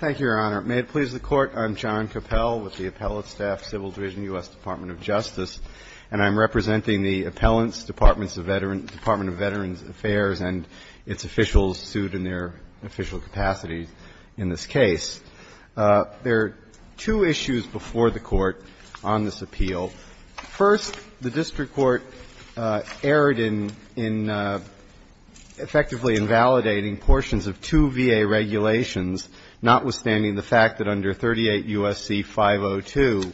Thank you, Your Honor. May it please the Court, I'm John Coppell with the Appellate Staff, Civil Division, U.S. Department of Justice, and I'm representing the Appellants, Departments of Veterans, Department of Veterans Affairs and its officials sued in their official capacity in this case. There are two issues before the Court on this appeal. First, the district court erred in effectively invalidating portions of two VA regulations, notwithstanding the fact that under 38 U.S.C. 502,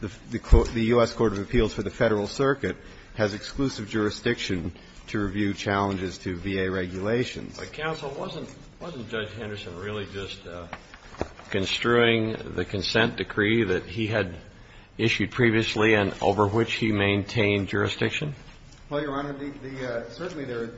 the U.S. Court of Appeals for the Federal Circuit has exclusive jurisdiction to review challenges to VA regulations. But Counsel, wasn't Judge Henderson really just construing the consent decree that he had issued previously and over which he maintained jurisdiction? Well, Your Honor, certainly the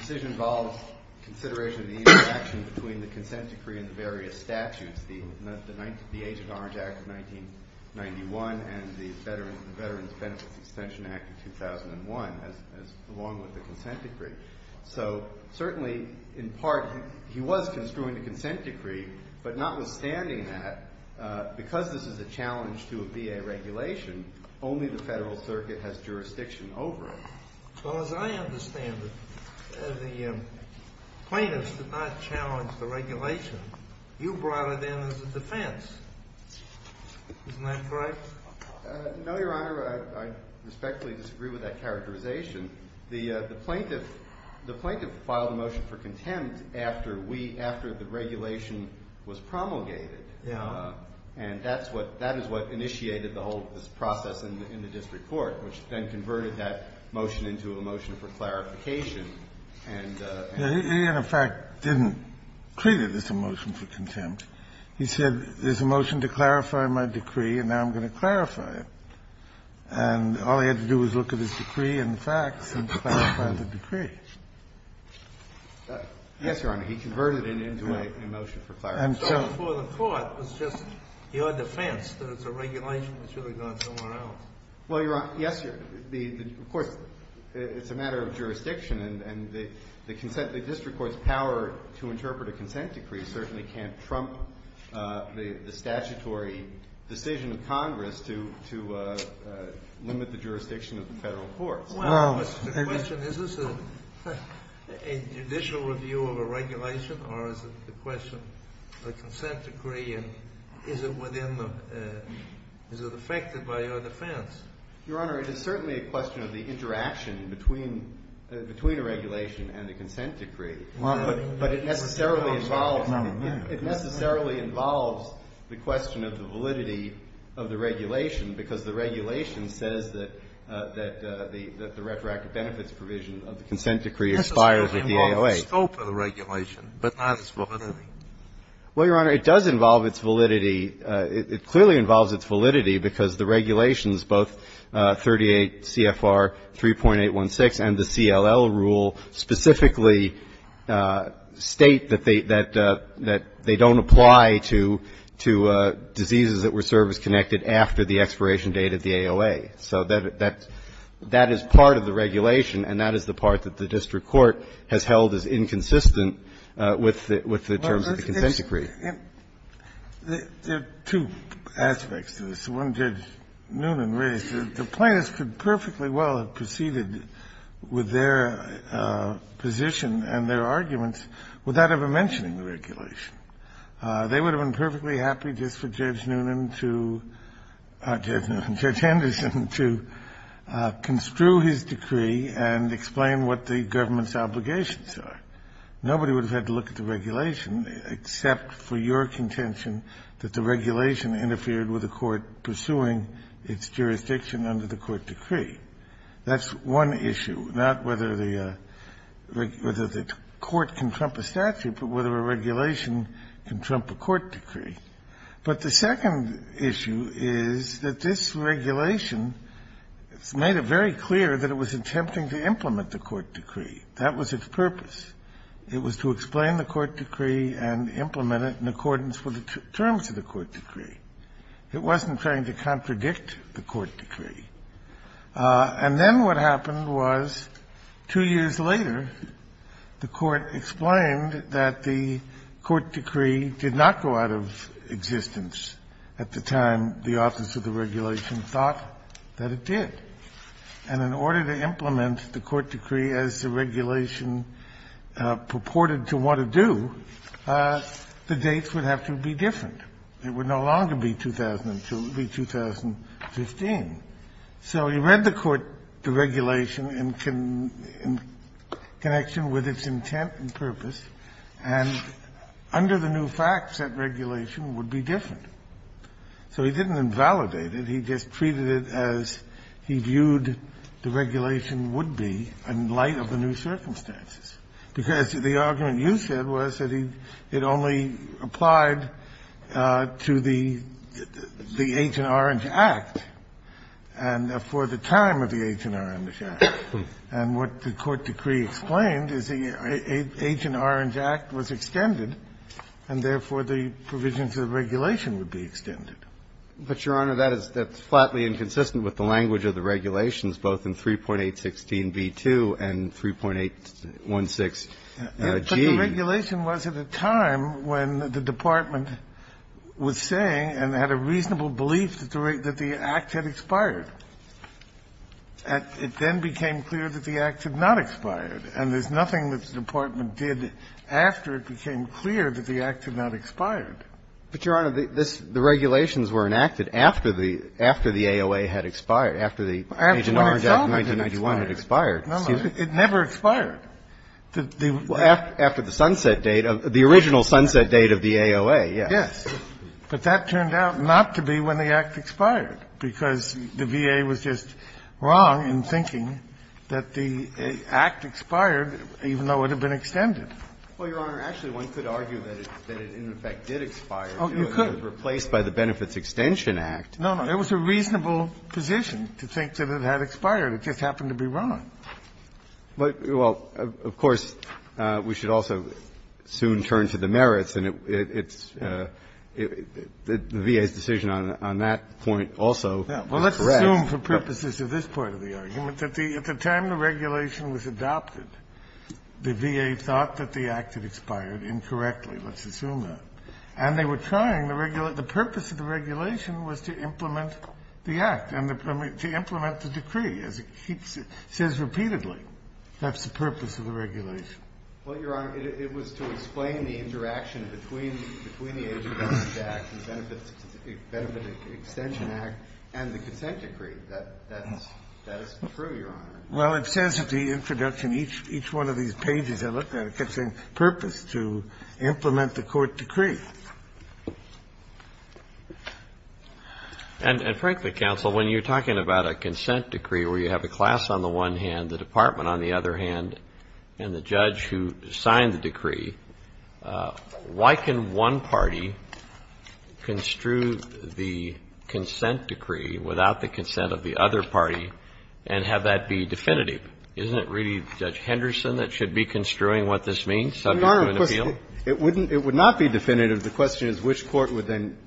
decision involves consideration of the interaction between the consent decree and the various statutes, the Agent Orange Act of 1991 and the Veterans Benefits Extension Act of 2001, along with the consent decree. So certainly, in part, he was construing the consent decree, but notwithstanding that, because this is a challenge to a VA regulation, only the Federal Circuit has jurisdiction over it. Well, as I understand it, the plaintiffs did not challenge the regulation. You brought it in as a defense. Isn't that correct? No, Your Honor. I respectfully disagree with that characterization. The plaintiff filed a motion for contempt after we – after the regulation was promulgated. And that's what – that is what initiated the whole process in the district court, which then converted that motion into a motion for clarification. He, in effect, didn't create it as a motion for contempt. He said, there's a motion to clarify my decree, and now I'm going to clarify it. And all he had to do was look at his decree and the facts and clarify the decree. Yes, Your Honor. He converted it into a motion for clarification. And so for the court, it was just your defense that it's a regulation that should have gone somewhere else. Well, Your Honor, yes. Of course, it's a matter of jurisdiction. And the consent – the district court's power to interpret a consent decree certainly can't trump the statutory decision of Congress to limit the jurisdiction of the federal courts. Your Honor, it's a question – is this a judicial review of a regulation, or is it a question of a consent decree, and is it within the – is it affected by your defense? Your Honor, it is certainly a question of the interaction between a regulation and a consent decree. But it necessarily involves – it necessarily involves the question of the validity of the regulation, because the regulation says that the retroactive benefits provision of the consent decree expires with the AOA. Yes, it certainly involves the scope of the regulation, but not its validity. Well, Your Honor, it does involve its validity. It clearly involves its validity because the regulations, both 38 CFR 3.816 and the CLL rule, specifically state that they don't apply to diseases that were service-connected after the expiration date of the AOA. So that is part of the regulation, and that is the part that the district court has held as inconsistent with the terms of the consent decree. There are two aspects to this. One Judge Noonan raised. The plaintiffs could perfectly well have proceeded with their position and their arguments without ever mentioning the regulation. They would have been perfectly happy just for Judge Noonan to – Judge Anderson to construe his decree and explain what the government's obligations are. Nobody would have had to look at the regulation except for your contention that the regulation interfered with the court pursuing its jurisdiction under the court decree. That's one issue, not whether the court can trump a statute, but whether a regulation can trump a court decree. But the second issue is that this regulation has made it very clear that it was attempting to implement the court decree. That was its purpose. It was to explain the court decree and implement it in accordance with the terms of the court decree. It wasn't trying to contradict the court decree. And then what happened was, two years later, the court explained that the court decree did not go out of existence at the time the office of the regulation thought that it did. And in order to implement the court decree as the regulation purported to want to do, the dates would have to be different. It would no longer be 2002. It would be 2015. So you read the court, the regulation, in connection with its intent and purpose. And under the new facts, that regulation would be different. So he didn't invalidate it. He just treated it as he viewed the regulation would be in light of the new circumstances, because the argument you said was that it only applied to the H.N. Orange Act. And for the time of the H.N. Orange Act. And what the court decree explained is the H.N. Orange Act was extended, and therefore the provisions of the regulation would be extended. But, Your Honor, that is flatly inconsistent with the language of the regulations, both in 3.816b2 and 3.816g. But the regulation was at a time when the department was saying and had a reasonable belief that the act had expired. It then became clear that the act had not expired. And there's nothing that the department did after it became clear that the act had not expired. But, Your Honor, the regulations were enacted after the AOA had expired, after the H.N. Orange Act of 1991 had expired. It never expired. After the sunset date, the original sunset date of the AOA, yes. But that turned out not to be when the act expired, because the VA was just wrong in thinking that the act expired even though it had been extended. Well, Your Honor, actually, one could argue that it in effect did expire, too. It was replaced by the Benefits Extension Act. No, no. It was a reasonable position to think that it had expired. It just happened to be wrong. But, well, of course, we should also soon turn to the merits. And it's the VA's decision on that point also was correct. Well, let's assume for purposes of this part of the argument that at the time the regulation was adopted, the VA thought that the act had expired incorrectly. Let's assume that. And they were trying to regulate the purpose of the regulation was to implement the act and to implement the decree, as it says repeatedly. That's the purpose of the regulation. Well, Your Honor, it was to explain the interaction between the Education Act, the Benefits Extension Act, and the consent decree. That is true, Your Honor. Well, it says at the introduction, each one of these pages I looked at, it's a purpose to implement the court decree. And frankly, counsel, when you're talking about a consent decree where you have the class on the one hand, the department on the other hand, and the judge who signed the decree, why can one party construe the consent decree without the consent of the other party and have that be definitive? Isn't it really Judge Henderson that should be construing what this means, subject to an appeal? Well, Your Honor, it wouldn't be definitive. The question is which court would then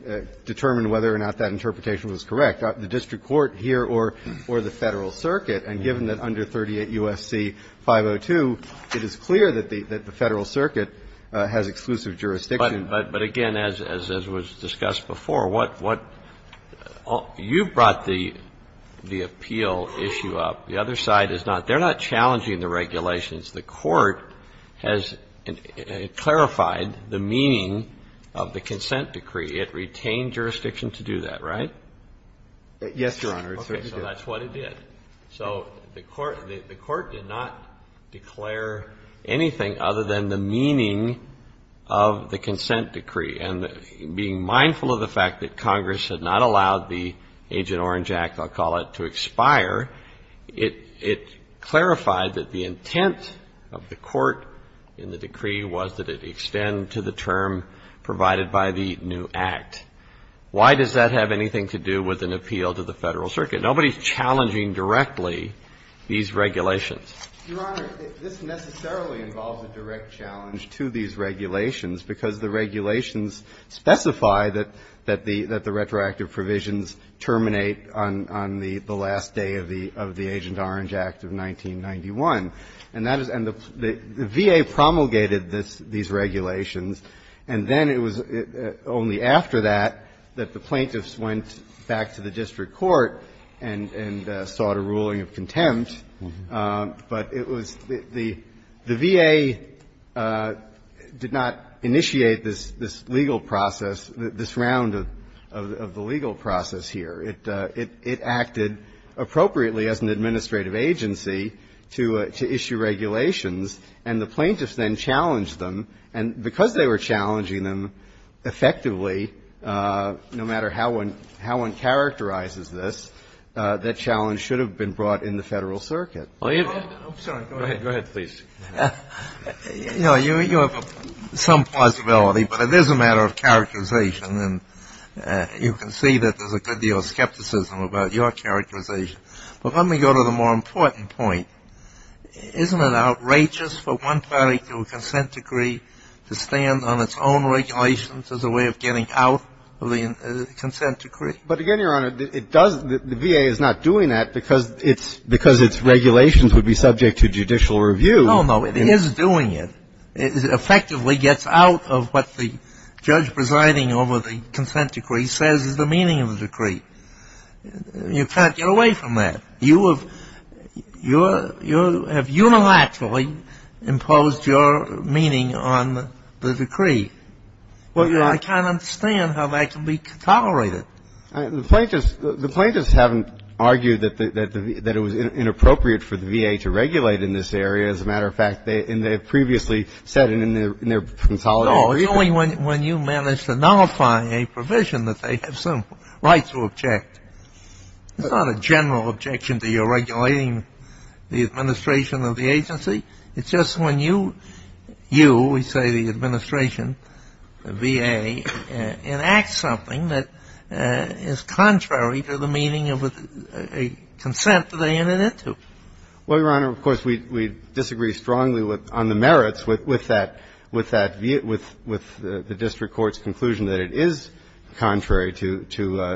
determine whether or not that interpretation was correct. The district court here or the Federal Circuit. And given that under 38 U.S.C. 502, it is clear that the Federal Circuit has exclusive jurisdiction. But again, as was discussed before, what you brought the appeal issue up, the other side is not they're not challenging the regulations. The court has clarified the meaning of the consent decree. It retained jurisdiction to do that, right? Yes, Your Honor. It certainly did. Okay. So that's what it did. So the court did not declare anything other than the meaning of the consent decree. And being mindful of the fact that Congress had not allowed the Agent Orange Act, I'll call it, to expire, it clarified that the intent of the court in the decree was that it extend to the term provided by the new Act. Why does that have anything to do with an appeal to the Federal Circuit? Nobody is challenging directly these regulations. Your Honor, this necessarily involves a direct challenge to these regulations because the regulations specify that the retroactive provisions terminate on the last day of the Agent Orange Act of 1991. And that is the VA promulgated these regulations, and then it was only after that that the plaintiffs went back to the district court and sought a ruling of contempt. But it was the VA did not initiate this legal process, this round of the legal process here. It acted appropriately as an administrative agency to issue regulations, and the plaintiffs then challenged them. And because they were challenging them effectively, no matter how one characterizes this, that challenge should have been brought in the Federal Circuit. Go ahead, please. You know, you have some possibility, but it is a matter of characterization, and you can see that there's a good deal of skepticism about your characterization. But let me go to the more important point. Isn't it outrageous for one party to a consent decree to stand on its own regulations as a way of getting out of the consent decree? But again, Your Honor, it does the VA is not doing that because its regulations would be subject to judicial review. No, no, it is doing it. It effectively gets out of what the judge presiding over the consent decree says is the meaning of the decree. You can't get away from that. You have unilaterally imposed your meaning on the decree. I can't understand how that can be tolerated. The plaintiffs haven't argued that it was inappropriate for the VA to regulate in this area. As a matter of fact, they have previously said in their consolidation. No, it's only when you manage to nullify a provision that they have some right to object. It's not a general objection to your regulating the administration of the agency. It's just when you, we say the administration, the VA, enacts something that is contrary to the meaning of a consent that they entered into. Well, Your Honor, of course, we disagree strongly on the merits with that, with that view, with the district court's conclusion that it is contrary to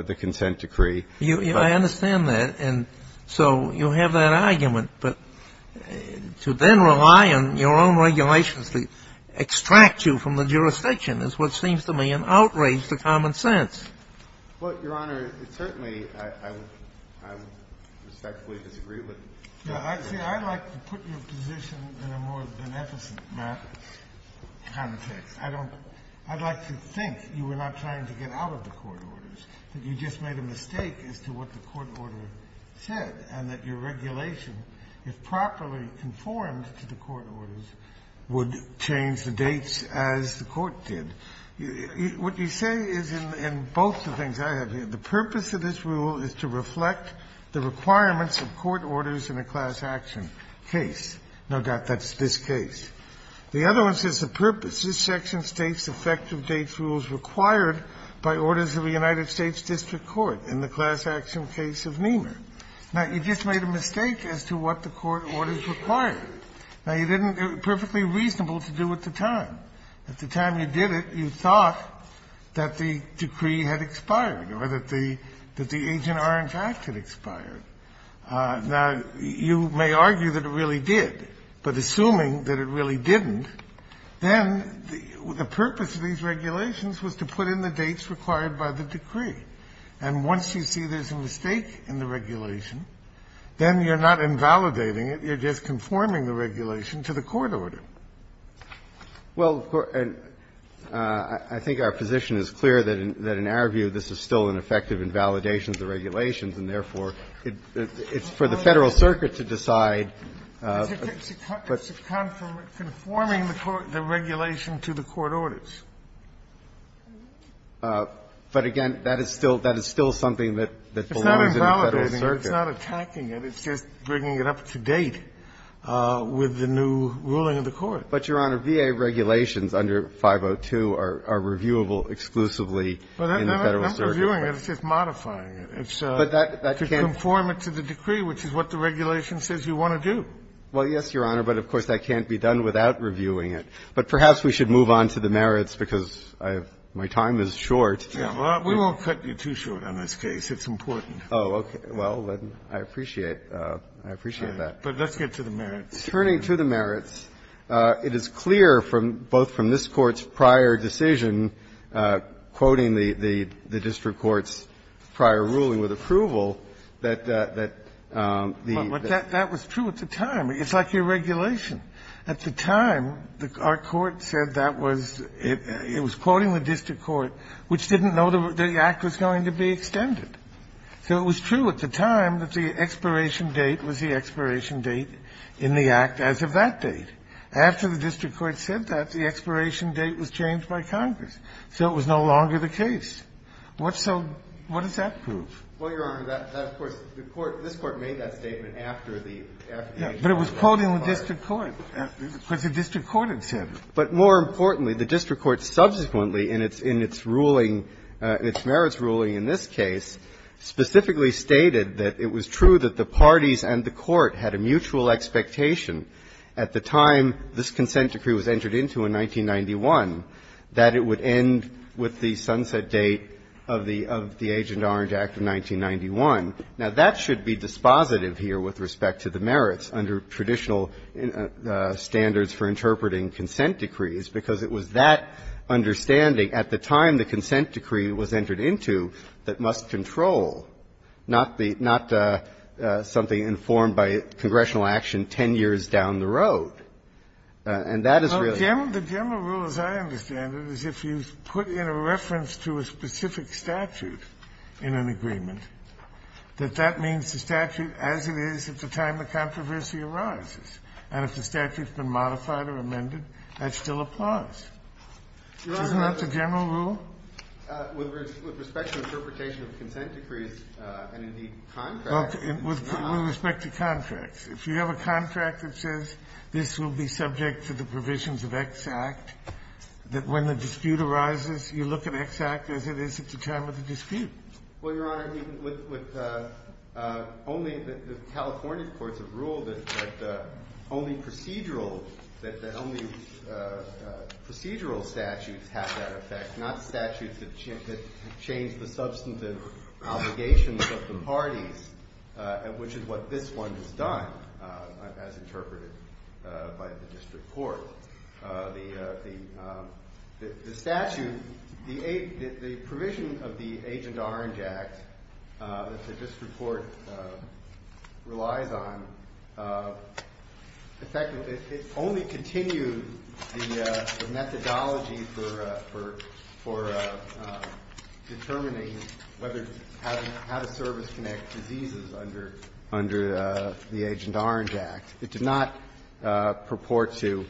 the consent decree. I understand that. And so you have that argument. But to then rely on your own regulations to extract you from the jurisdiction is what seems to me an outrage to common sense. Well, Your Honor, certainly I respectfully disagree with that view. I'd like to put your position in a more beneficent context. I don't, I'd like to think you were not trying to get out of the court orders, that you just made a mistake as to what the court order said, and that your regulation, if properly conformed to the court orders, would change the dates as the court did. What you say is in both the things I have here, the purpose of this rule is to reflect the requirements of court orders in a class action case. No doubt that's this case. The other one says the purpose, this section states effective dates rules required by orders of a United States district court in the class action case of Nehmer. Now, you just made a mistake as to what the court orders required. Now, you didn't, it was perfectly reasonable to do it at the time. At the time you did it, you thought that the decree had expired or that the Agent Orange Act had expired. Now, you may argue that it really did, but assuming that it really didn't, then the purpose of these regulations was to put in the dates required by the decree. And once you see there's a mistake in the regulation, then you're not invalidating it, you're just conforming the regulation to the court order. Well, and I think our position is clear that in our view this is still an effective invalidation of the regulations, and therefore it's for the Federal Circuit to decide. It's conforming the regulation to the court orders. But again, that is still something that belongs in the Federal Circuit. It's not invalidating it, it's not attacking it, it's just bringing it up to date with the new ruling of the court. But, Your Honor, VA regulations under 502 are reviewable exclusively in the Federal Circuit. But I'm not reviewing it, it's just modifying it. But that can't be done. To conform it to the decree, which is what the regulation says you want to do. Well, yes, Your Honor, but of course that can't be done without reviewing it. But perhaps we should move on to the merits, because my time is short. We won't cut you too short on this case. It's important. Oh, okay. Well, then I appreciate that. But let's get to the merits. Turning to the merits, it is clear from both from this Court's prior decision, quoting the district court's prior ruling with approval, that the the the But that was true at the time. It's like your regulation. At the time, our court said that was, it was quoting the district court, which didn't know the Act was going to be extended. So it was true at the time that the expiration date was the expiration date in the Act as of that date. After the district court said that, the expiration date was changed by Congress. So it was no longer the case. What's so What does that prove? Well, Your Honor, that of course, the Court, this Court made that statement after the application was filed. Yes, but it was quoting the district court, because the district court had said it. But more importantly, the district court subsequently in its in its ruling, its merits ruling in this case, specifically stated that it was true that the parties and the court had a mutual expectation at the time this consent decree was entered into in 1991, that it would end with the sunset date of the of the Agent Orange Act of 1991. Now, that should be dispositive here with respect to the merits under traditional standards for interpreting consent decrees, because it was that understanding at the time the consent decree was entered into that must control, not the not something informed by congressional action 10 years down the road. And that is really Well, the general rule, as I understand it, is if you put in a reference to a specific statute in an agreement, that that means the statute as it is at the time the controversy arises. And if the statute's been modified or amended, that still applies. Isn't that the general rule? With respect to interpretation of consent decrees and, indeed, contracts. With respect to contracts. If you have a contract that says this will be subject to the provisions of X Act, that when the dispute arises, you look at X Act as it is at the time of the dispute. Well, Your Honor, with only the California courts have ruled that only procedural statutes have that effect, not statutes that change the substantive obligations of the parties, which is what this one has done, as interpreted by the district court. The statute, the provision of the Agent Orange Act that the district court relies on, effectively, it only continued the methodology for determining whether how to service connect diseases under the Agent Orange Act. It did not purport to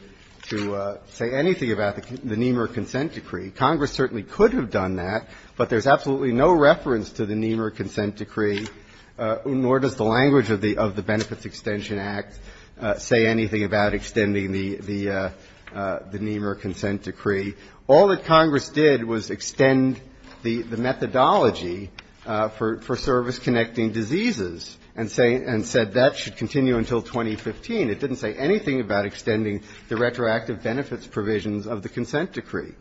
say anything about the Nehmer Consent Decree. Congress certainly could have done that, but there's absolutely no reference to the Nehmer Consent Decree, nor does the language of the Benefits Extension Act say anything about extending the Nehmer Consent Decree. All that Congress did was extend the methodology for service-connecting diseases and said that should continue until 2015. It didn't say anything about extending the retroactive benefits provisions of the consent decree.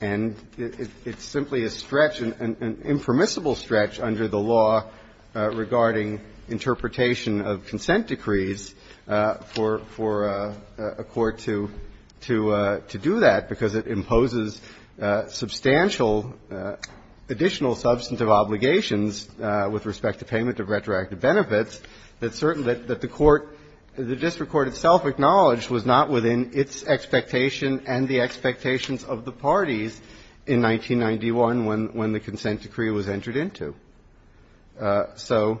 And it's simply a stretch, an impermissible stretch under the law regarding interpretation of consent decrees for a court to do that, because it imposes substantial additional substantive obligations with respect to payment of retroactive benefits that the court, the district court itself acknowledged was not within its expectation and the expectations of the parties in 1991 when the consent decree was entered into. So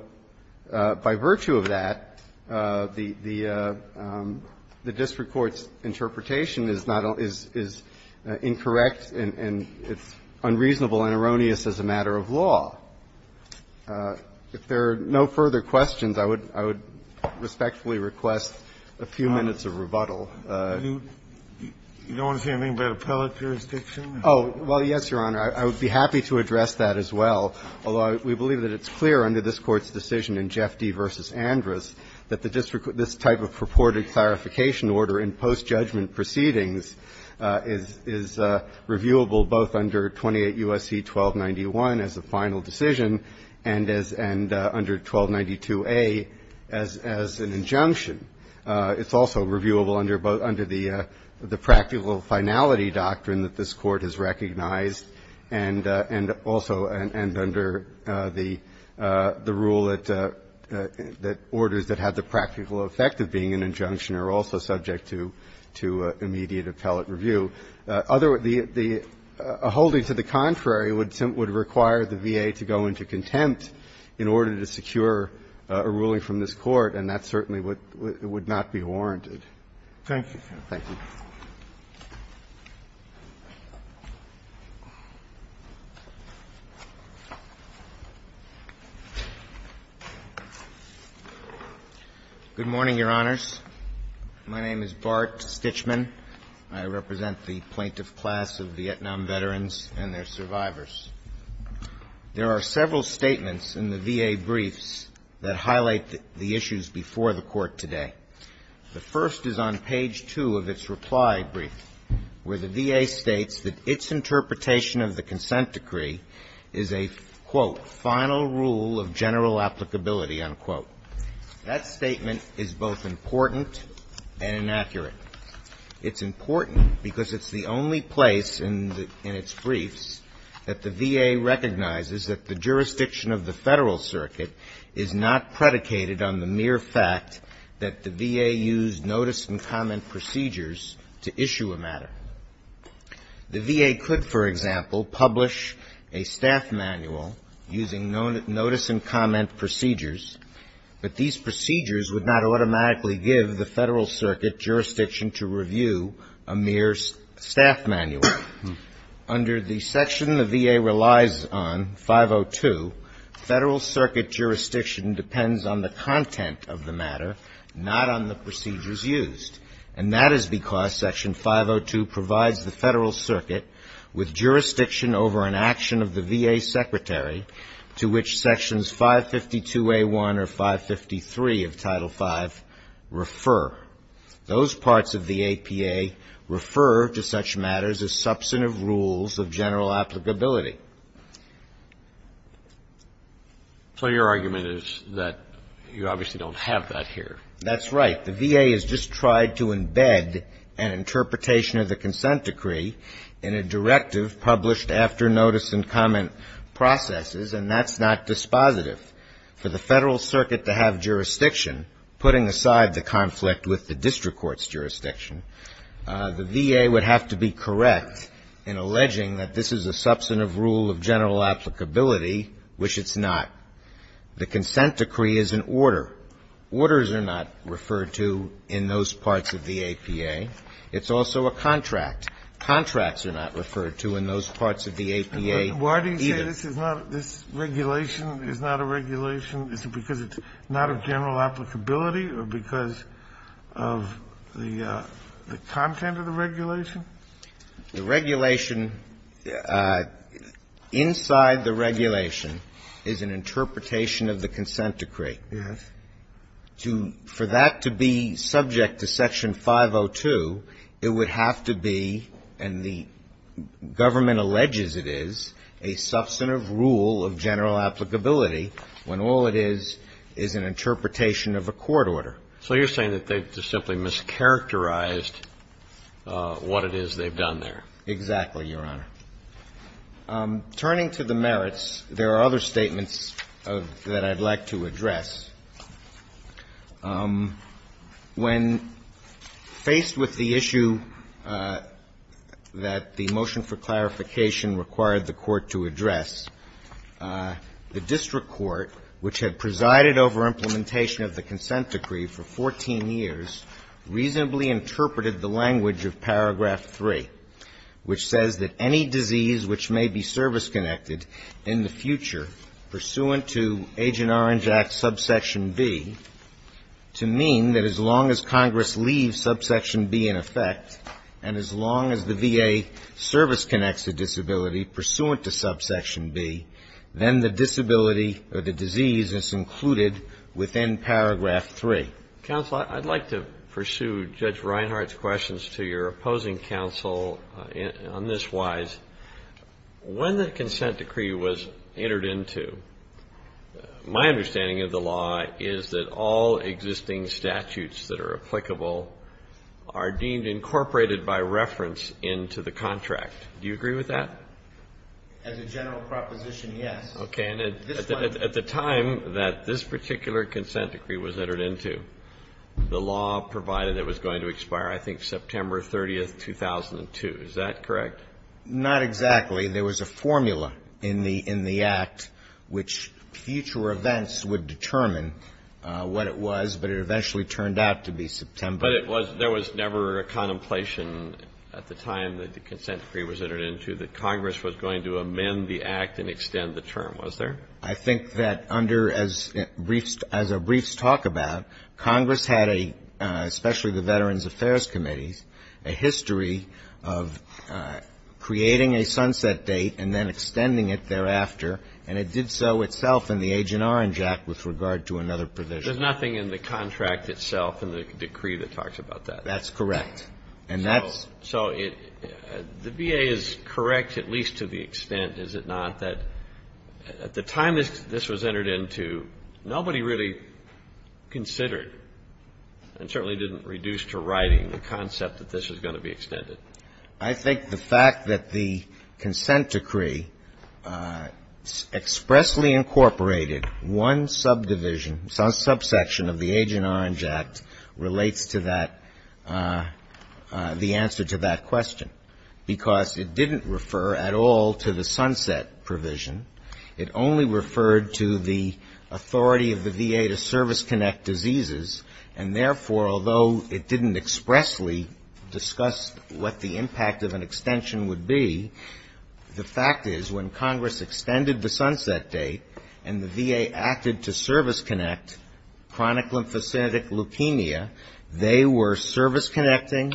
by virtue of that, the district court's interpretation is not all – is incorrect and it's unreasonable and erroneous as a matter of law. If there are no further questions, I would respectfully request a few minutes of rebuttal. You don't want to say anything about appellate jurisdiction? Oh, well, yes, Your Honor. I would be happy to address that as well, although we believe that it's clear under this Court's decision in Jeff D. v. Andrus that the district – this type of purported clarification order in post-judgment proceedings is reviewable both under 28 U.S.C. 1291 as a final decision and as – and under 1292A as an injunction. It's also reviewable under the practical finality doctrine that this Court has recognized that the district court is subject to a ruling from this Court and also – and under the rule that orders that have the practical effect of being an injunction are also subject to immediate appellate review. The holding to the contrary would require the VA to go into contempt in order to secure a ruling from this Court, and that certainly would not be warranted. Thank you, Your Honor. Good morning, Your Honors. My name is Bart Stichman. I represent the plaintiff class of Vietnam veterans and their survivors. There are several statements in the VA briefs that highlight the issues before the Court today. The first is on page 2 of its reply brief, where the VA states that its interpretation of the consent decree is a, quote, final rule of general applicability, unquote. That statement is both important and inaccurate. It's important because it's the only place in the – in its briefs that the VA recognizes that the jurisdiction of the Federal Circuit is not predicated on the mere fact that the VA used notice and comment procedures to issue a matter. The VA could, for example, publish a staff manual using notice and comment procedures, but these procedures would not automatically give the Federal Circuit jurisdiction to review a mere staff manual. Under the section the VA relies on, 502, Federal Circuit jurisdiction depends on the content of the matter, not on the procedures used. And that is because Section 502 provides the Federal Circuit with jurisdiction over an action of the VA secretary to which Sections 552A1 or 553 of Title V refer. Those parts of the APA refer to such matters as substantive rules of general applicability. So your argument is that you obviously don't have that here. That's right. The VA has just tried to embed an interpretation of the consent decree in a directive published after notice and comment processes, and that's not dispositive. For the Federal Circuit to have jurisdiction, putting aside the conflict with the district court's jurisdiction, the VA would have to be correct in alleging that this is a substantive rule of general applicability, which it's not. The consent decree is an order. Orders are not referred to in those parts of the APA. It's also a contract. Contracts are not referred to in those parts of the APA either. So why do you say this is not this regulation is not a regulation? Is it because it's not of general applicability or because of the content of the regulation? The regulation inside the regulation is an interpretation of the consent decree. Yes. For that to be subject to Section 502, it would have to be, and the government alleges it is, a substantive rule of general applicability when all it is is an interpretation of a court order. So you're saying that they simply mischaracterized what it is they've done there. Exactly, Your Honor. Turning to the merits, there are other statements that I'd like to address. When faced with the issue that the motion for clarification required the court to address, the district court, which had presided over implementation of the consent decree for 14 years, reasonably interpreted the language of paragraph 3, which says that any disease which may be service-connected in the future pursuant to Agent Orange Act Subsection B, to mean that as long as Congress leaves Subsection B in effect and as long as the VA service-connects a disability pursuant to Subsection B, then the disability or the disease is included within paragraph 3. Counsel, I'd like to pursue Judge Reinhart's questions to your opposing counsel on this wise. When the consent decree was entered into, my understanding of the law is that all existing statutes that are applicable are deemed incorporated by reference into the contract. Do you agree with that? As a general proposition, yes. Okay. And at the time that this particular consent decree was entered into, the law provided it was going to expire, I think, September 30th, 2002. Is that correct? Not exactly. There was a formula in the Act which future events would determine what it was, but it eventually turned out to be September. But it was – there was never a contemplation at the time that the consent decree was entered into that Congress was going to amend the Act and extend the term, was there? I think that under – as briefs talk about, Congress had a – especially the Veterans Affairs Committee, a history of creating a sunset date and then extending it thereafter. And it did so itself in the Agent Orange Act with regard to another provision. There's nothing in the contract itself in the decree that talks about that. That's correct. And that's – So the VA is correct at least to the extent, is it not, that at the time this was entered into, nobody really considered and certainly didn't reduce to writing the concept that this was going to be extended. I think the fact that the consent decree expressly incorporated one subdivision, subsection of the Agent Orange Act relates to that – the answer to that question. Because it didn't refer at all to the sunset provision. It only referred to the authority of the VA to service-connect diseases. And therefore, although it didn't expressly discuss what the impact of an extension would be, the fact is when Congress extended the sunset date and the VA acted to service-connect chronic lymphocytic leukemia, they were service-connecting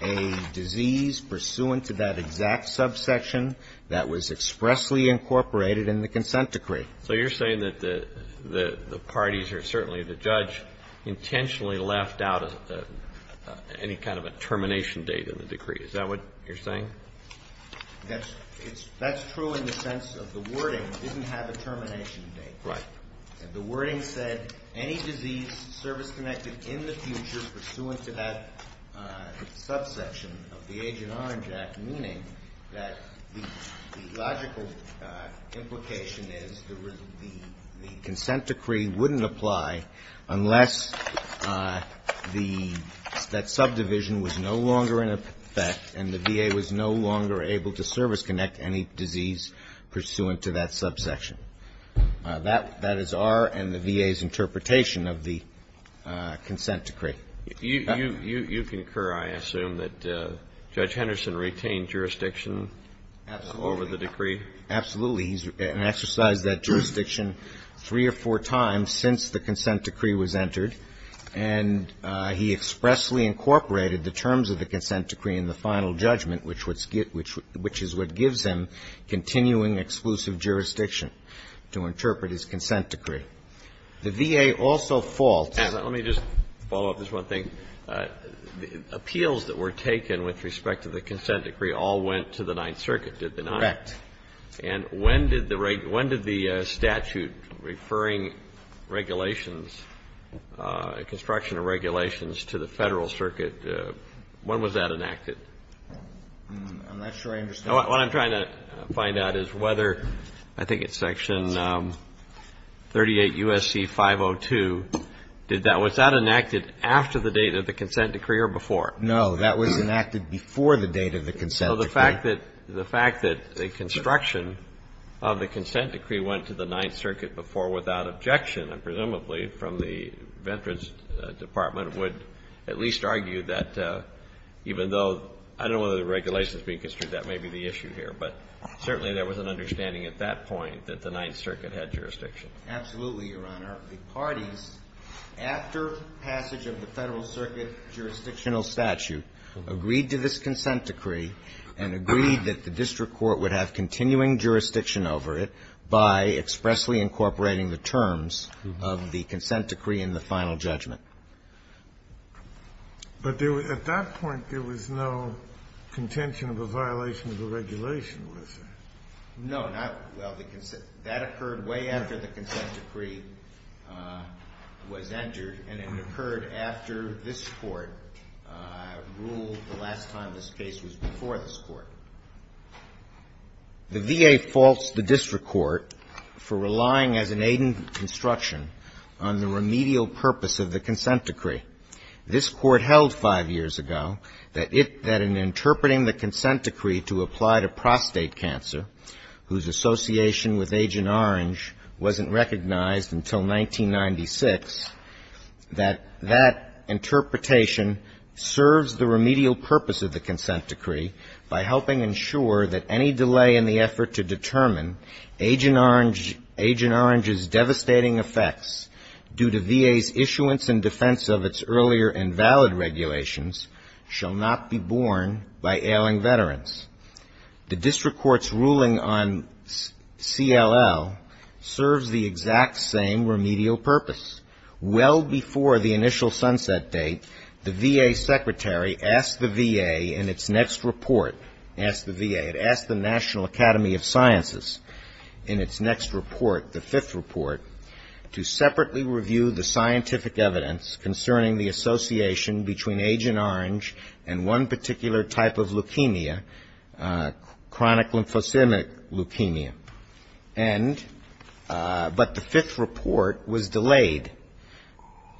a disease pursuant to that exact subsection that was expressly incorporated in the consent decree. So you're saying that the parties or certainly the judge intentionally left out any kind of a termination date in the decree. Is that what you're saying? That's true in the sense of the wording didn't have a termination date. Right. And the wording said any disease service-connected in the future pursuant to that subsection of the Agent Orange Act, meaning that the logical implication is the consent decree wouldn't apply unless that subdivision was no longer in effect and the VA was no longer able to service-connect any disease pursuant to that subsection. That is our and the VA's interpretation of the consent decree. You concur, I assume, that Judge Henderson retained jurisdiction over the decree? Absolutely. He's exercised that jurisdiction three or four times since the consent decree was entered. And he expressly incorporated the terms of the consent decree in the final judgment, which is what gives him continuing exclusive jurisdiction to interpret his consent decree. The VA also faults. Let me just follow up just one thing. Appeals that were taken with respect to the consent decree all went to the Ninth Circuit, did they not? Correct. And when did the statute referring regulations, construction of regulations, to the Federal Circuit, when was that enacted? I'm not sure I understand. What I'm trying to find out is whether, I think it's Section 38 U.S.C. 502, did that was that enacted after the date of the consent decree or before? No, that was enacted before the date of the consent decree. So the fact that the fact that the construction of the consent decree went to the Ninth Circuit before without objection, presumably from the Veterans Department, would at least argue that even though I don't know whether the regulation is being construed, that may be the issue here. But certainly there was an understanding at that point that the Ninth Circuit had jurisdiction. Absolutely, Your Honor. The parties, after passage of the Federal Circuit jurisdictional statute, agreed to this consent decree and agreed that the district court would have continuing jurisdiction over it by expressly incorporating the terms of the consent decree in the final judgment. But at that point, there was no contention of a violation of the regulation, was there? No. That occurred way after the consent decree was entered, and it occurred after this Court ruled the last time this case was before this Court. The VA faults the district court for relying as an aid in construction on the remedial purpose of the consent decree. This Court held five years ago that in interpreting the consent decree to apply to prostate cancer, whose association with Agent Orange wasn't recognized until 1996, that that interpretation serves the remedial purpose of the consent decree by helping ensure that any delay in the effort to determine Agent Orange's devastating effects due to VA's issuance and defense of its earlier invalid regulations shall not be borne by ailing veterans. The district court's ruling on CLL serves the exact same remedial purpose. Well before the initial sunset date, the VA secretary asked the VA in its next report, asked the VA, asked the National Academy of Sciences in its next report, the fifth report, to separately review the scientific evidence concerning the association between Agent Orange and one particular type of leukemia, chronic lymphocytic leukemia. But the fifth report was delayed.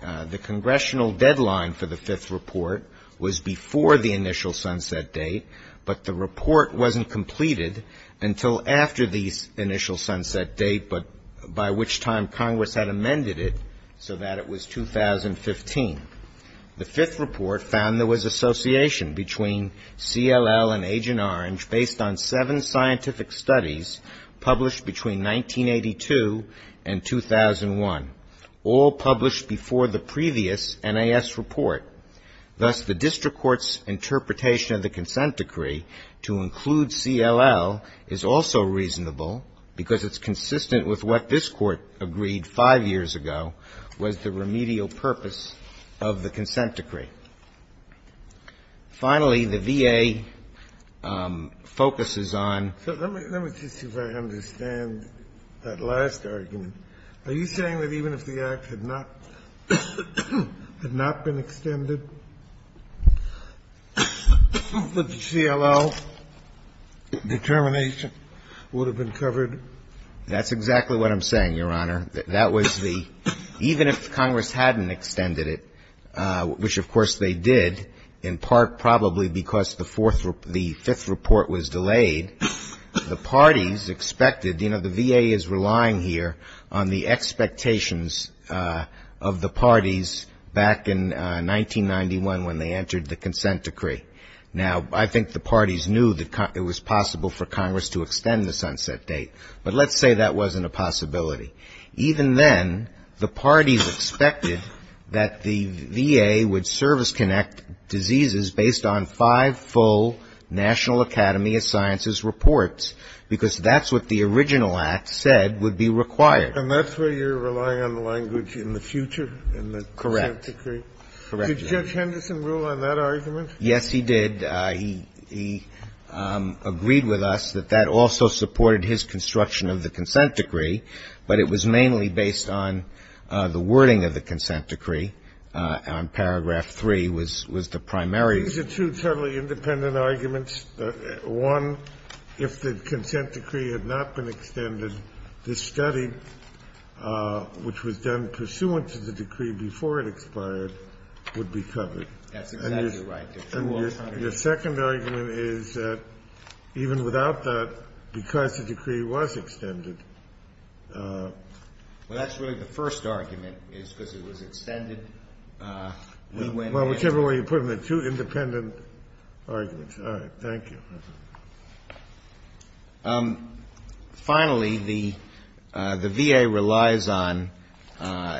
The congressional deadline for the fifth report was before the initial sunset date, but the report wasn't completed until after the initial sunset date, but by which time Congress had amended it so that it was 2015. The fifth report found there was association between CLL and Agent Orange based on seven scientific studies published between 1982 and 2001, all published before the previous NAS report. Thus the district court's interpretation of the consent decree to include what Agent Orange agreed five years ago was the remedial purpose of the consent decree. Finally, the VA focuses on ‑‑ So let me just see if I understand that last argument. Are you saying that even if the act had not been extended, that the CLL determination would have been covered? That's exactly what I'm saying, Your Honor. That was the ‑‑ even if Congress hadn't extended it, which of course they did, in part probably because the fifth report was delayed, the parties expected, you know, the VA is relying here on the expectations of the parties back in 1991 when they entered the consent decree. Now, I think the parties knew that it was possible for Congress to extend the sunset date, but let's say that wasn't a possibility. Even then, the parties expected that the VA would service connect diseases based on five full National Academy of Sciences reports, because that's what the original act said would be required. And that's where you're relying on the language in the future in the consent decree? Correct. Correct. Did Judge Henderson rule on that argument? Yes, he did. He agreed with us that that also supported his construction of the consent decree, but it was mainly based on the wording of the consent decree. Paragraph three was the primary. These are two totally independent arguments. One, if the consent decree had not been extended, this study, which was done pursuant to the decree before it expired, would be covered. That's exactly right. The second argument is that even without that, because the decree was extended. Well, that's really the first argument, is because it was extended. Well, whichever way you put it, they're two independent arguments. All right. Thank you. Finally, the VA relies on,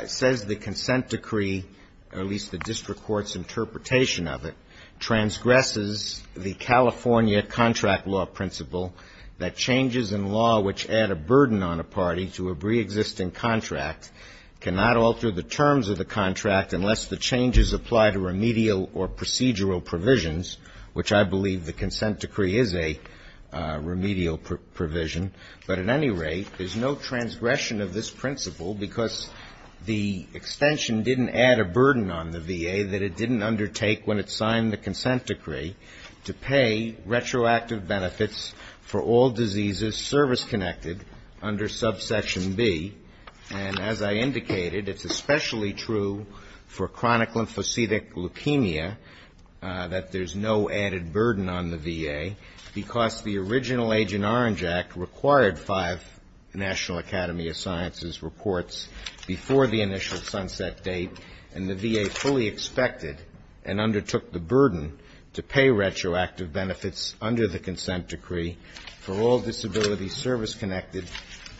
says the consent decree, or at least the district court's interpretation of it, transgresses the California contract law principle that changes in law which add a burden on a party to a preexisting contract, cannot alter the terms of the contract unless the changes apply to remedial or procedural provisions, which I believe the consent decree is a remedial provision. But at any rate, there's no transgression of this principle because the extension didn't add a burden on the VA that it didn't undertake when it signed the consent decree to pay retroactive benefits for all diseases service-connected under subsection B. And as I indicated, it's especially true for chronic lymphocytic leukemia that there's no added burden on the VA. Because the original Agent Orange Act required five National Academy of Sciences reports before the initial sunset date, and the VA fully expected and undertook the burden to pay retroactive benefits under the consent decree for all disability service-connected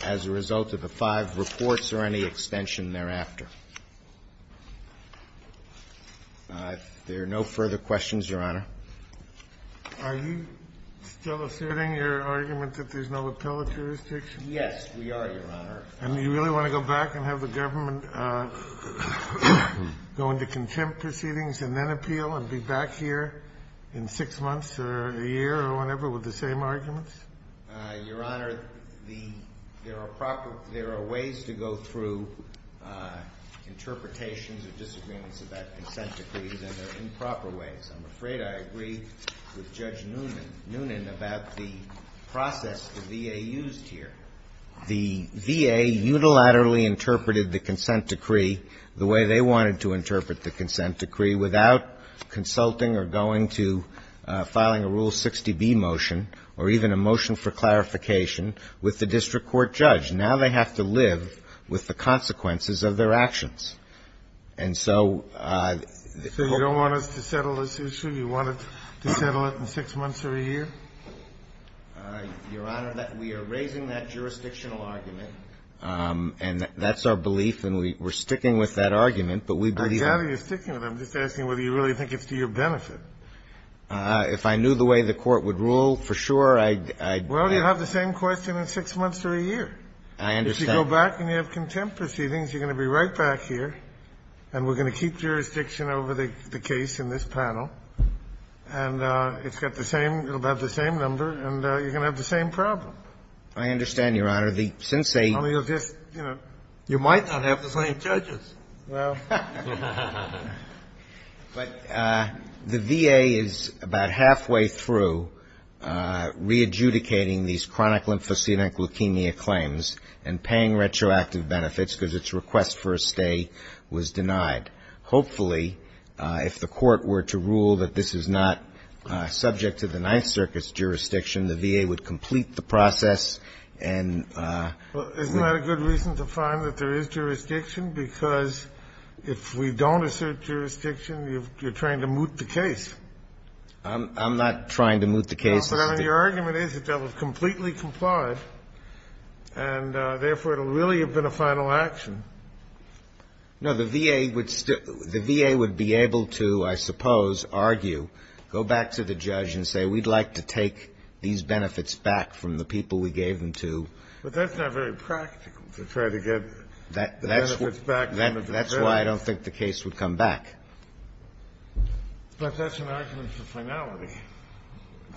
as a result of the five reports or any extension thereafter. If there are no further questions, Your Honor. Are you still asserting your argument that there's no appellate jurisdiction? Yes, we are, Your Honor. And do you really want to go back and have the government go into contempt proceedings and then appeal and be back here in six months or a year or whenever with the same arguments? Your Honor, the – there are proper – there are ways to go through the appellate interpretations or disagreements about consent decrees, and there are improper ways. I'm afraid I agree with Judge Noonan about the process the VA used here. The VA unilaterally interpreted the consent decree the way they wanted to interpret the consent decree without consulting or going to filing a Rule 60B motion or even a motion for clarification with the district court judge. Now they have to live with the consequences of their actions. And so – So you don't want us to settle this issue? You want us to settle it in six months or a year? Your Honor, we are raising that jurisdictional argument. And that's our belief, and we're sticking with that argument, but we believe – I'm glad you're sticking with it. I'm just asking whether you really think it's to your benefit. If I knew the way the Court would rule, for sure, I'd – Well, you'll have the same question in six months or a year. I understand. If you go back and you have contempt proceedings, you're going to be right back here, and we're going to keep jurisdiction over the case in this panel. And it's got the same – it'll have the same number, and you're going to have the same problem. I understand, Your Honor. The – since they – Well, you'll just – You might not have the same judges. Well – But the VA is about halfway through re-adjudicating these chronic lymphocytic leukemia claims and paying retroactive benefits because its request for a stay was denied. Hopefully, if the Court were to rule that this is not subject to the Ninth Circuit's jurisdiction, the VA would complete the process and – If we don't assert jurisdiction, you're trying to moot the case. I'm not trying to moot the case. No, but I mean, your argument is that that was completely complied, and therefore it'll really have been a final action. No, the VA would still – the VA would be able to, I suppose, argue, go back to the judge and say, we'd like to take these benefits back from the people we gave them to. But that's not very practical, to try to get benefits back. That's why I don't think the case would come back. But that's an argument for finality,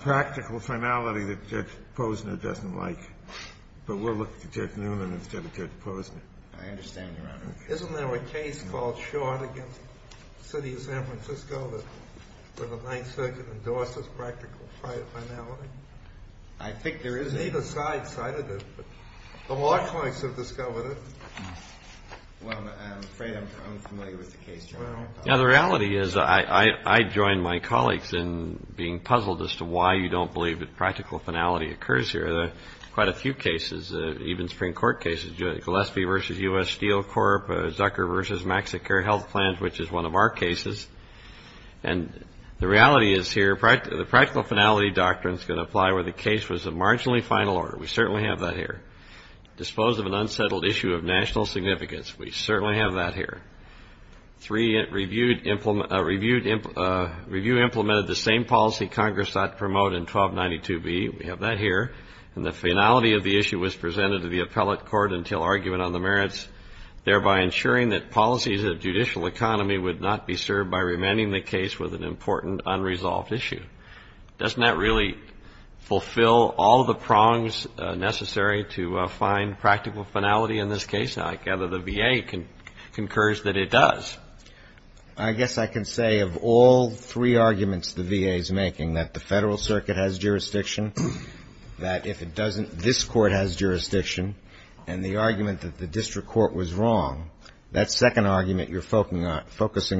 practical finality that Judge Posner doesn't like. But we'll look to Judge Newman instead of Judge Posner. I understand, Your Honor. Isn't there a case called Short against the city of San Francisco where the Ninth Circuit endorses practical finality? I think there is. It's neither side cited, but the law clerks have discovered it. Well, I'm afraid I'm unfamiliar with the case, Your Honor. Yeah, the reality is I join my colleagues in being puzzled as to why you don't believe that practical finality occurs here. There are quite a few cases, even Supreme Court cases, Gillespie v. U.S. Steel Corp., Zucker v. MaxiCare Health Plans, which is one of our cases. And the reality is here, the practical finality doctrine is going to apply where the case was of marginally final order. We certainly have that here. Dispose of an unsettled issue of national significance. We certainly have that here. Three, review implemented the same policy Congress sought to promote in 1292b. We have that here. And the finality of the issue was presented to the appellate court until argument on the merits, thereby ensuring that policies of judicial economy would not be served by remanding the case with an important unresolved issue. Doesn't that really fulfill all the prongs necessary to find practical finality in this case? I gather the VA concurs that it does. I guess I can say of all three arguments the VA is making, that the Federal Circuit has jurisdiction, that if it doesn't, this Court has jurisdiction, and the argument that the district court was wrong, that second argument you're focusing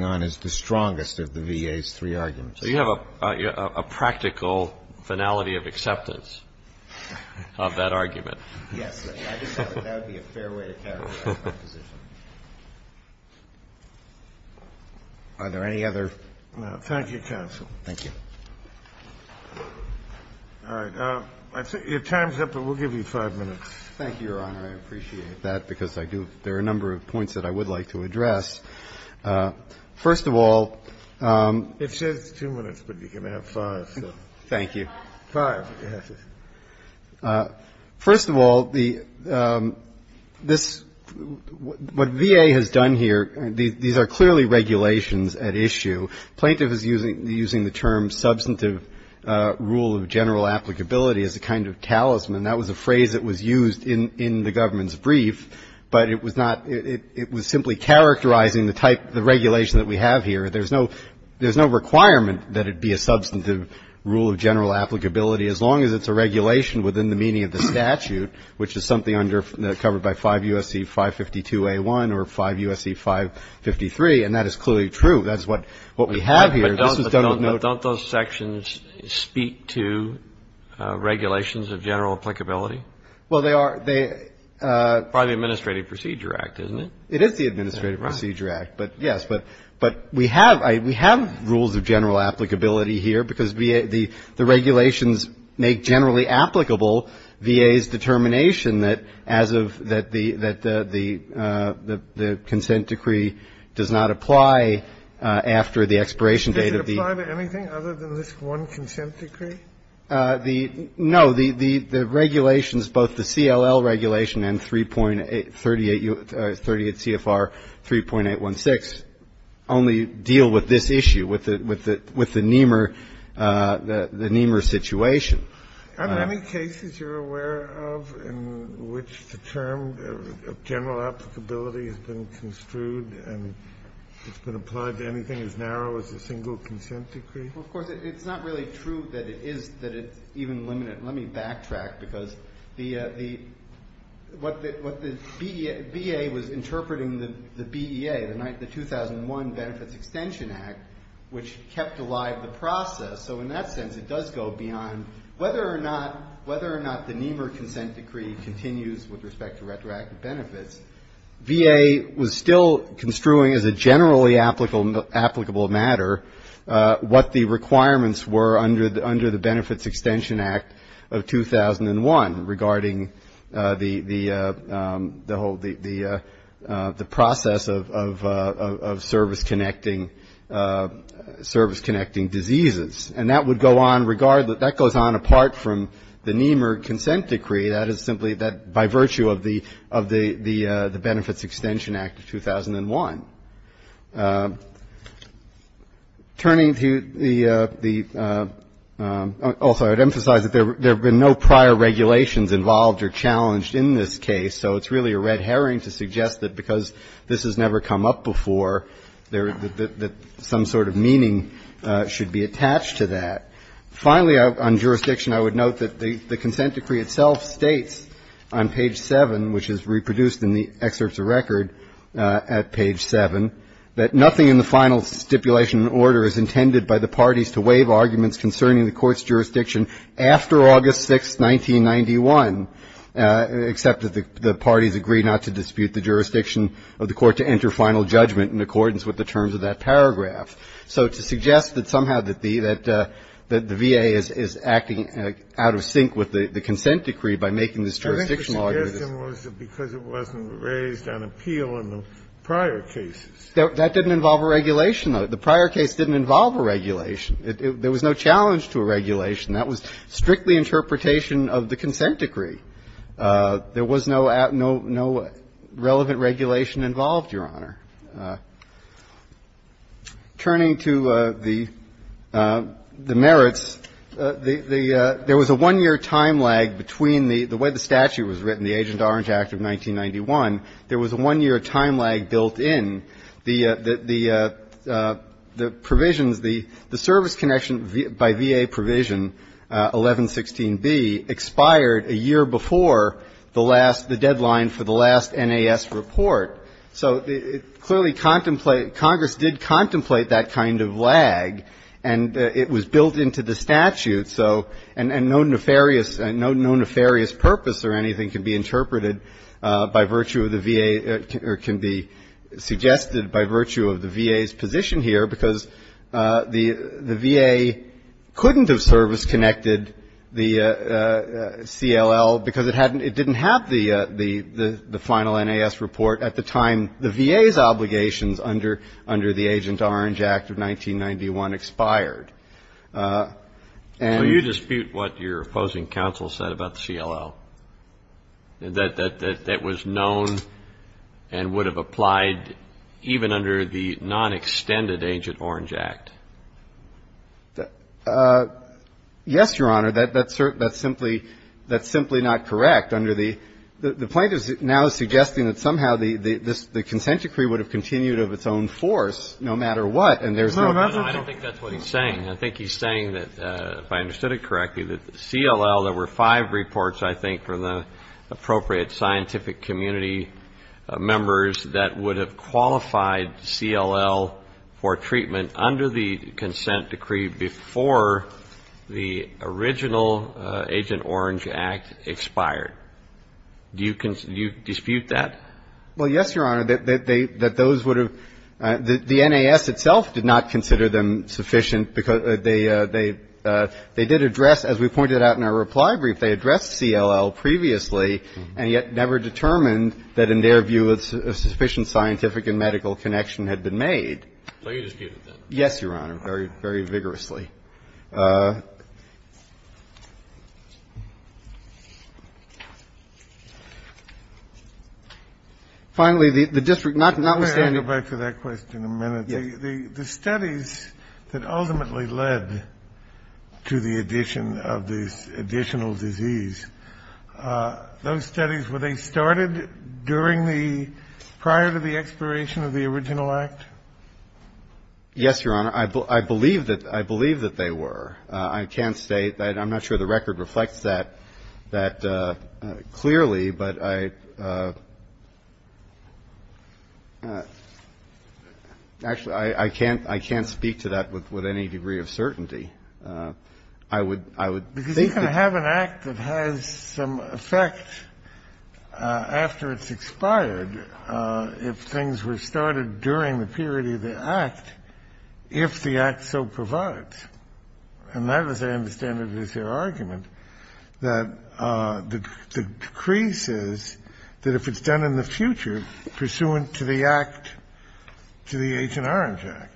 on is the strongest of the VA's three arguments. So you have a practical finality of acceptance of that argument. Yes. I just thought that would be a fair way to characterize my position. Are there any other? Thank you, counsel. Thank you. All right. Your time's up, but we'll give you five minutes. Thank you, Your Honor. I appreciate that, because I do. There are a number of points that I would like to address. First of all ---- It says two minutes, but you can have five. Thank you. Five. First of all, the ---- this ---- what VA has done here, these are clearly regulations at issue. Plaintiff is using the term substantive rule of general applicability as a kind of talisman. That was a phrase that was used in the government's brief, but it was not ---- it was simply characterizing the regulation that we have here. There's no requirement that it be a substantive rule of general applicability, as long as it's a regulation within the meaning of the statute, which is something covered by 5 U.S.C. 552A1 or 5 U.S.C. 553, and that is clearly true. That is what we have here. But don't those sections speak to regulations of general applicability? Well, they are. Probably the Administrative Procedure Act, isn't it? It is the Administrative Procedure Act, but yes. But we have ---- we have rules of general applicability here, because the regulations make generally applicable VA's determination that as of ---- that the consent decree does not apply after the expiration date of the ---- Does it apply to anything other than this one consent decree? No. The regulations, both the CLL regulation and 38 CFR 3.816 only deal with this issue, with the NEMR situation. Are there any cases you're aware of in which the term of general applicability has been construed and it's been applied to anything as narrow as a single consent decree? Well, of course, it's not really true that it is, that it's even limited. Let me backtrack, because the ---- what the BEA was interpreting the BEA, the 2001 Benefits Extension Act, which kept alive the process, so in that sense it does go beyond whether or not the NEMR consent decree continues with respect to retroactive benefits. VA was still construing as a generally applicable matter what the requirements were under the Benefits Extension Act of 2001 regarding the whole ---- the process of service-connecting diseases. And that would go on regardless ---- that goes on apart from the NEMR consent decree. That is simply by virtue of the Benefits Extension Act of 2001. Turning to the ---- also I would emphasize that there have been no prior regulations involved or challenged in this case, so it's really a red herring to suggest that because this has never come up before, that some sort of meaning should be attached to that. Finally, on jurisdiction, I would note that the consent decree itself states on page 7, which is reproduced in the excerpts of record at page 7, that nothing in the final stipulation order is intended by the parties to waive arguments concerning the Court's jurisdiction after August 6, 1991, except that the parties agree not to dispute the jurisdiction of the Court to enter final judgment in accordance with the terms of that paragraph. So to suggest that somehow that the VA is acting out of sync with the consent decree by making this jurisdictional argument is ---- Kennedy. I think the suggestion was because it wasn't raised on appeal in the prior cases. That didn't involve a regulation, though. The prior case didn't involve a regulation. There was no challenge to a regulation. That was strictly interpretation of the consent decree. There was no relevant regulation involved, Your Honor. Turning to the merits, the ---- there was a one-year time lag between the way the statute was written, the Agent Orange Act of 1991. There was a one-year time lag built in. The provisions, the service connection by VA provision 1116b expired a year before the last ---- the deadline for the last NAS report. So it clearly ---- Congress did contemplate that kind of lag, and it was built into the statute. So no nefarious purpose or anything can be interpreted by virtue of the VA or can be suggested by virtue of the VA's position here, because the VA couldn't have service-connected the CLL because it didn't have the final NAS report at the time the VA's obligations under the Agent Orange Act of 1991 expired. And ---- So you dispute what your opposing counsel said about the CLL, that that was known and would have applied even under the non-extended Agent Orange Act? Yes, Your Honor. That's simply not correct. Under the ---- the plaintiff now is suggesting that somehow the consent decree would have continued of its own force no matter what, and there's no ---- I don't think that's what he's saying. I think he's saying that, if I understood it correctly, that the CLL, there were five reports, I think, from the appropriate scientific community members that would have qualified CLL for treatment under the consent decree before the original Agent Orange Act expired. Do you dispute that? Well, yes, Your Honor, that those would have ---- the NAS itself did not consider them sufficient because they did address, as we pointed out in our reply brief, they addressed CLL previously and yet never determined that, in their view, a sufficient scientific and medical connection had been made. So you dispute it, then? Yes, Your Honor, very, very vigorously. Finally, the district, notwithstanding ---- May I go back to that question a minute? The studies that ultimately led to the addition of the additional disease, those studies, were they started during the ---- prior to the expiration of the original Act? Yes, Your Honor. I believe that they were. I can't state that. I'm not sure the record reflects that clearly. But I ---- actually, I can't speak to that with any degree of certainty. I would think that ---- Because you can have an Act that has some effect after it's expired if things were started during the period of the Act, if the Act so provides. And that, as I understand it, is their argument, that the decree says that if it's done in the future pursuant to the Act, to the Agent Orange Act,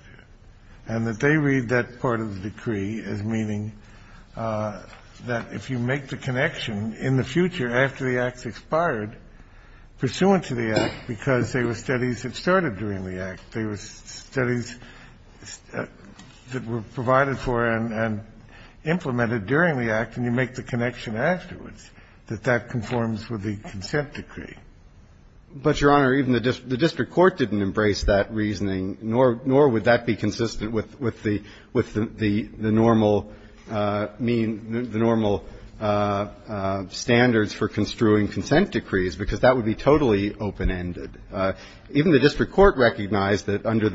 and that they read that part of the decree as meaning that if you make the connection in the future after the Act's expired pursuant to the Act because there were studies that started during the Act, there were studies that were provided for and implemented during the Act, and you make the connection afterwards that that conforms with the consent decree. But, Your Honor, even the district court didn't embrace that reasoning, nor would that be consistent with the normal standards for construing consent decrees, because that would be totally open-ended. Even the district court recognized that under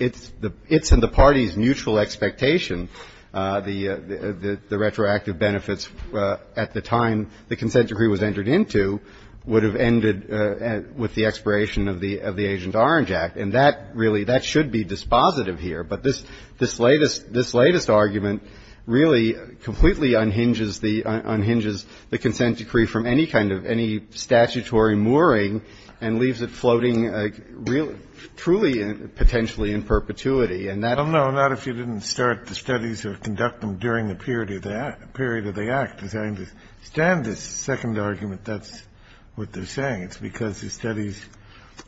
its and the party's mutual expectation, the retroactive benefits at the time the consent decree was entered into would have ended with the expiration of the Agent Orange Act. And that really ---- that should be dispositive here. But this latest argument really completely unhinges the consent decree from any kind of statutory mooring and leaves it floating really truly potentially in perpetuity. And that ---- Kennedy, I don't know, not if you didn't start the studies or conduct them during the period of the Act. As I understand this second argument, that's what they're saying. It's because the studies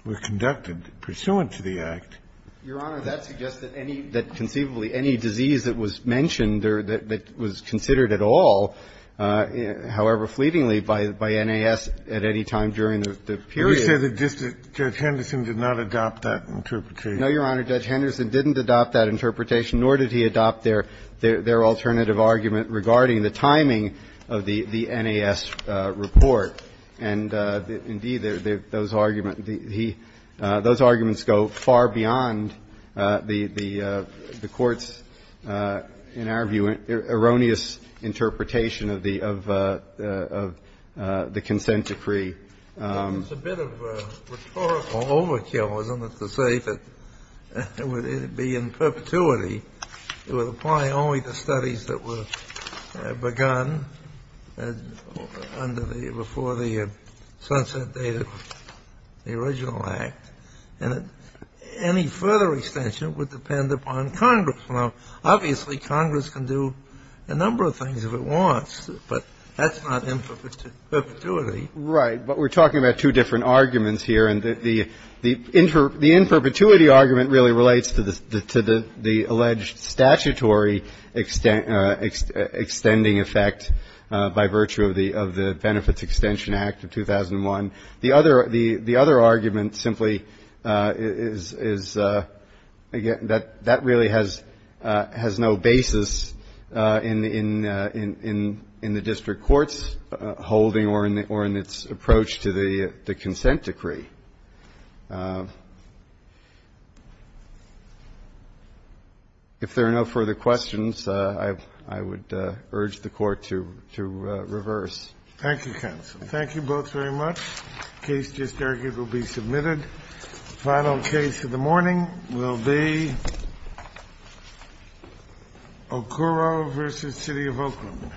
were conducted pursuant to the Act. Your Honor, that suggests that any ---- that conceivably any disease that was mentioned that was considered at all, however fleetingly, by N.A.S. at any time during the period ---- Kennedy, you said that Judge Henderson did not adopt that interpretation. No, Your Honor, Judge Henderson didn't adopt that interpretation, nor did he adopt their alternative argument regarding the timing of the N.A.S. report. And, indeed, those arguments go far beyond the Court's, in our view, erroneous interpretation of the consent decree. It's a bit of a rhetorical overkill, isn't it, to say that it would be in perpetuity, it would apply only to studies that were begun under the ---- before the sunset date of the original Act, and any further extension would depend upon Congress. Now, obviously, Congress can do a number of things if it wants, but that's not in perpetuity. Right. But we're talking about two different arguments here, and the inter ---- the in perpetuity argument really relates to the alleged statutory extending effect by virtue of the Benefits Extension Act of 2001. The other argument simply is, again, that really has no basis in the district court's holding or in its approach to the consent decree. If there are no further questions, I would urge the Court to reverse. Thank you, counsel. Thank you both very much. The case just argued will be submitted. The final case of the morning will be Okoro v. City of Oakland.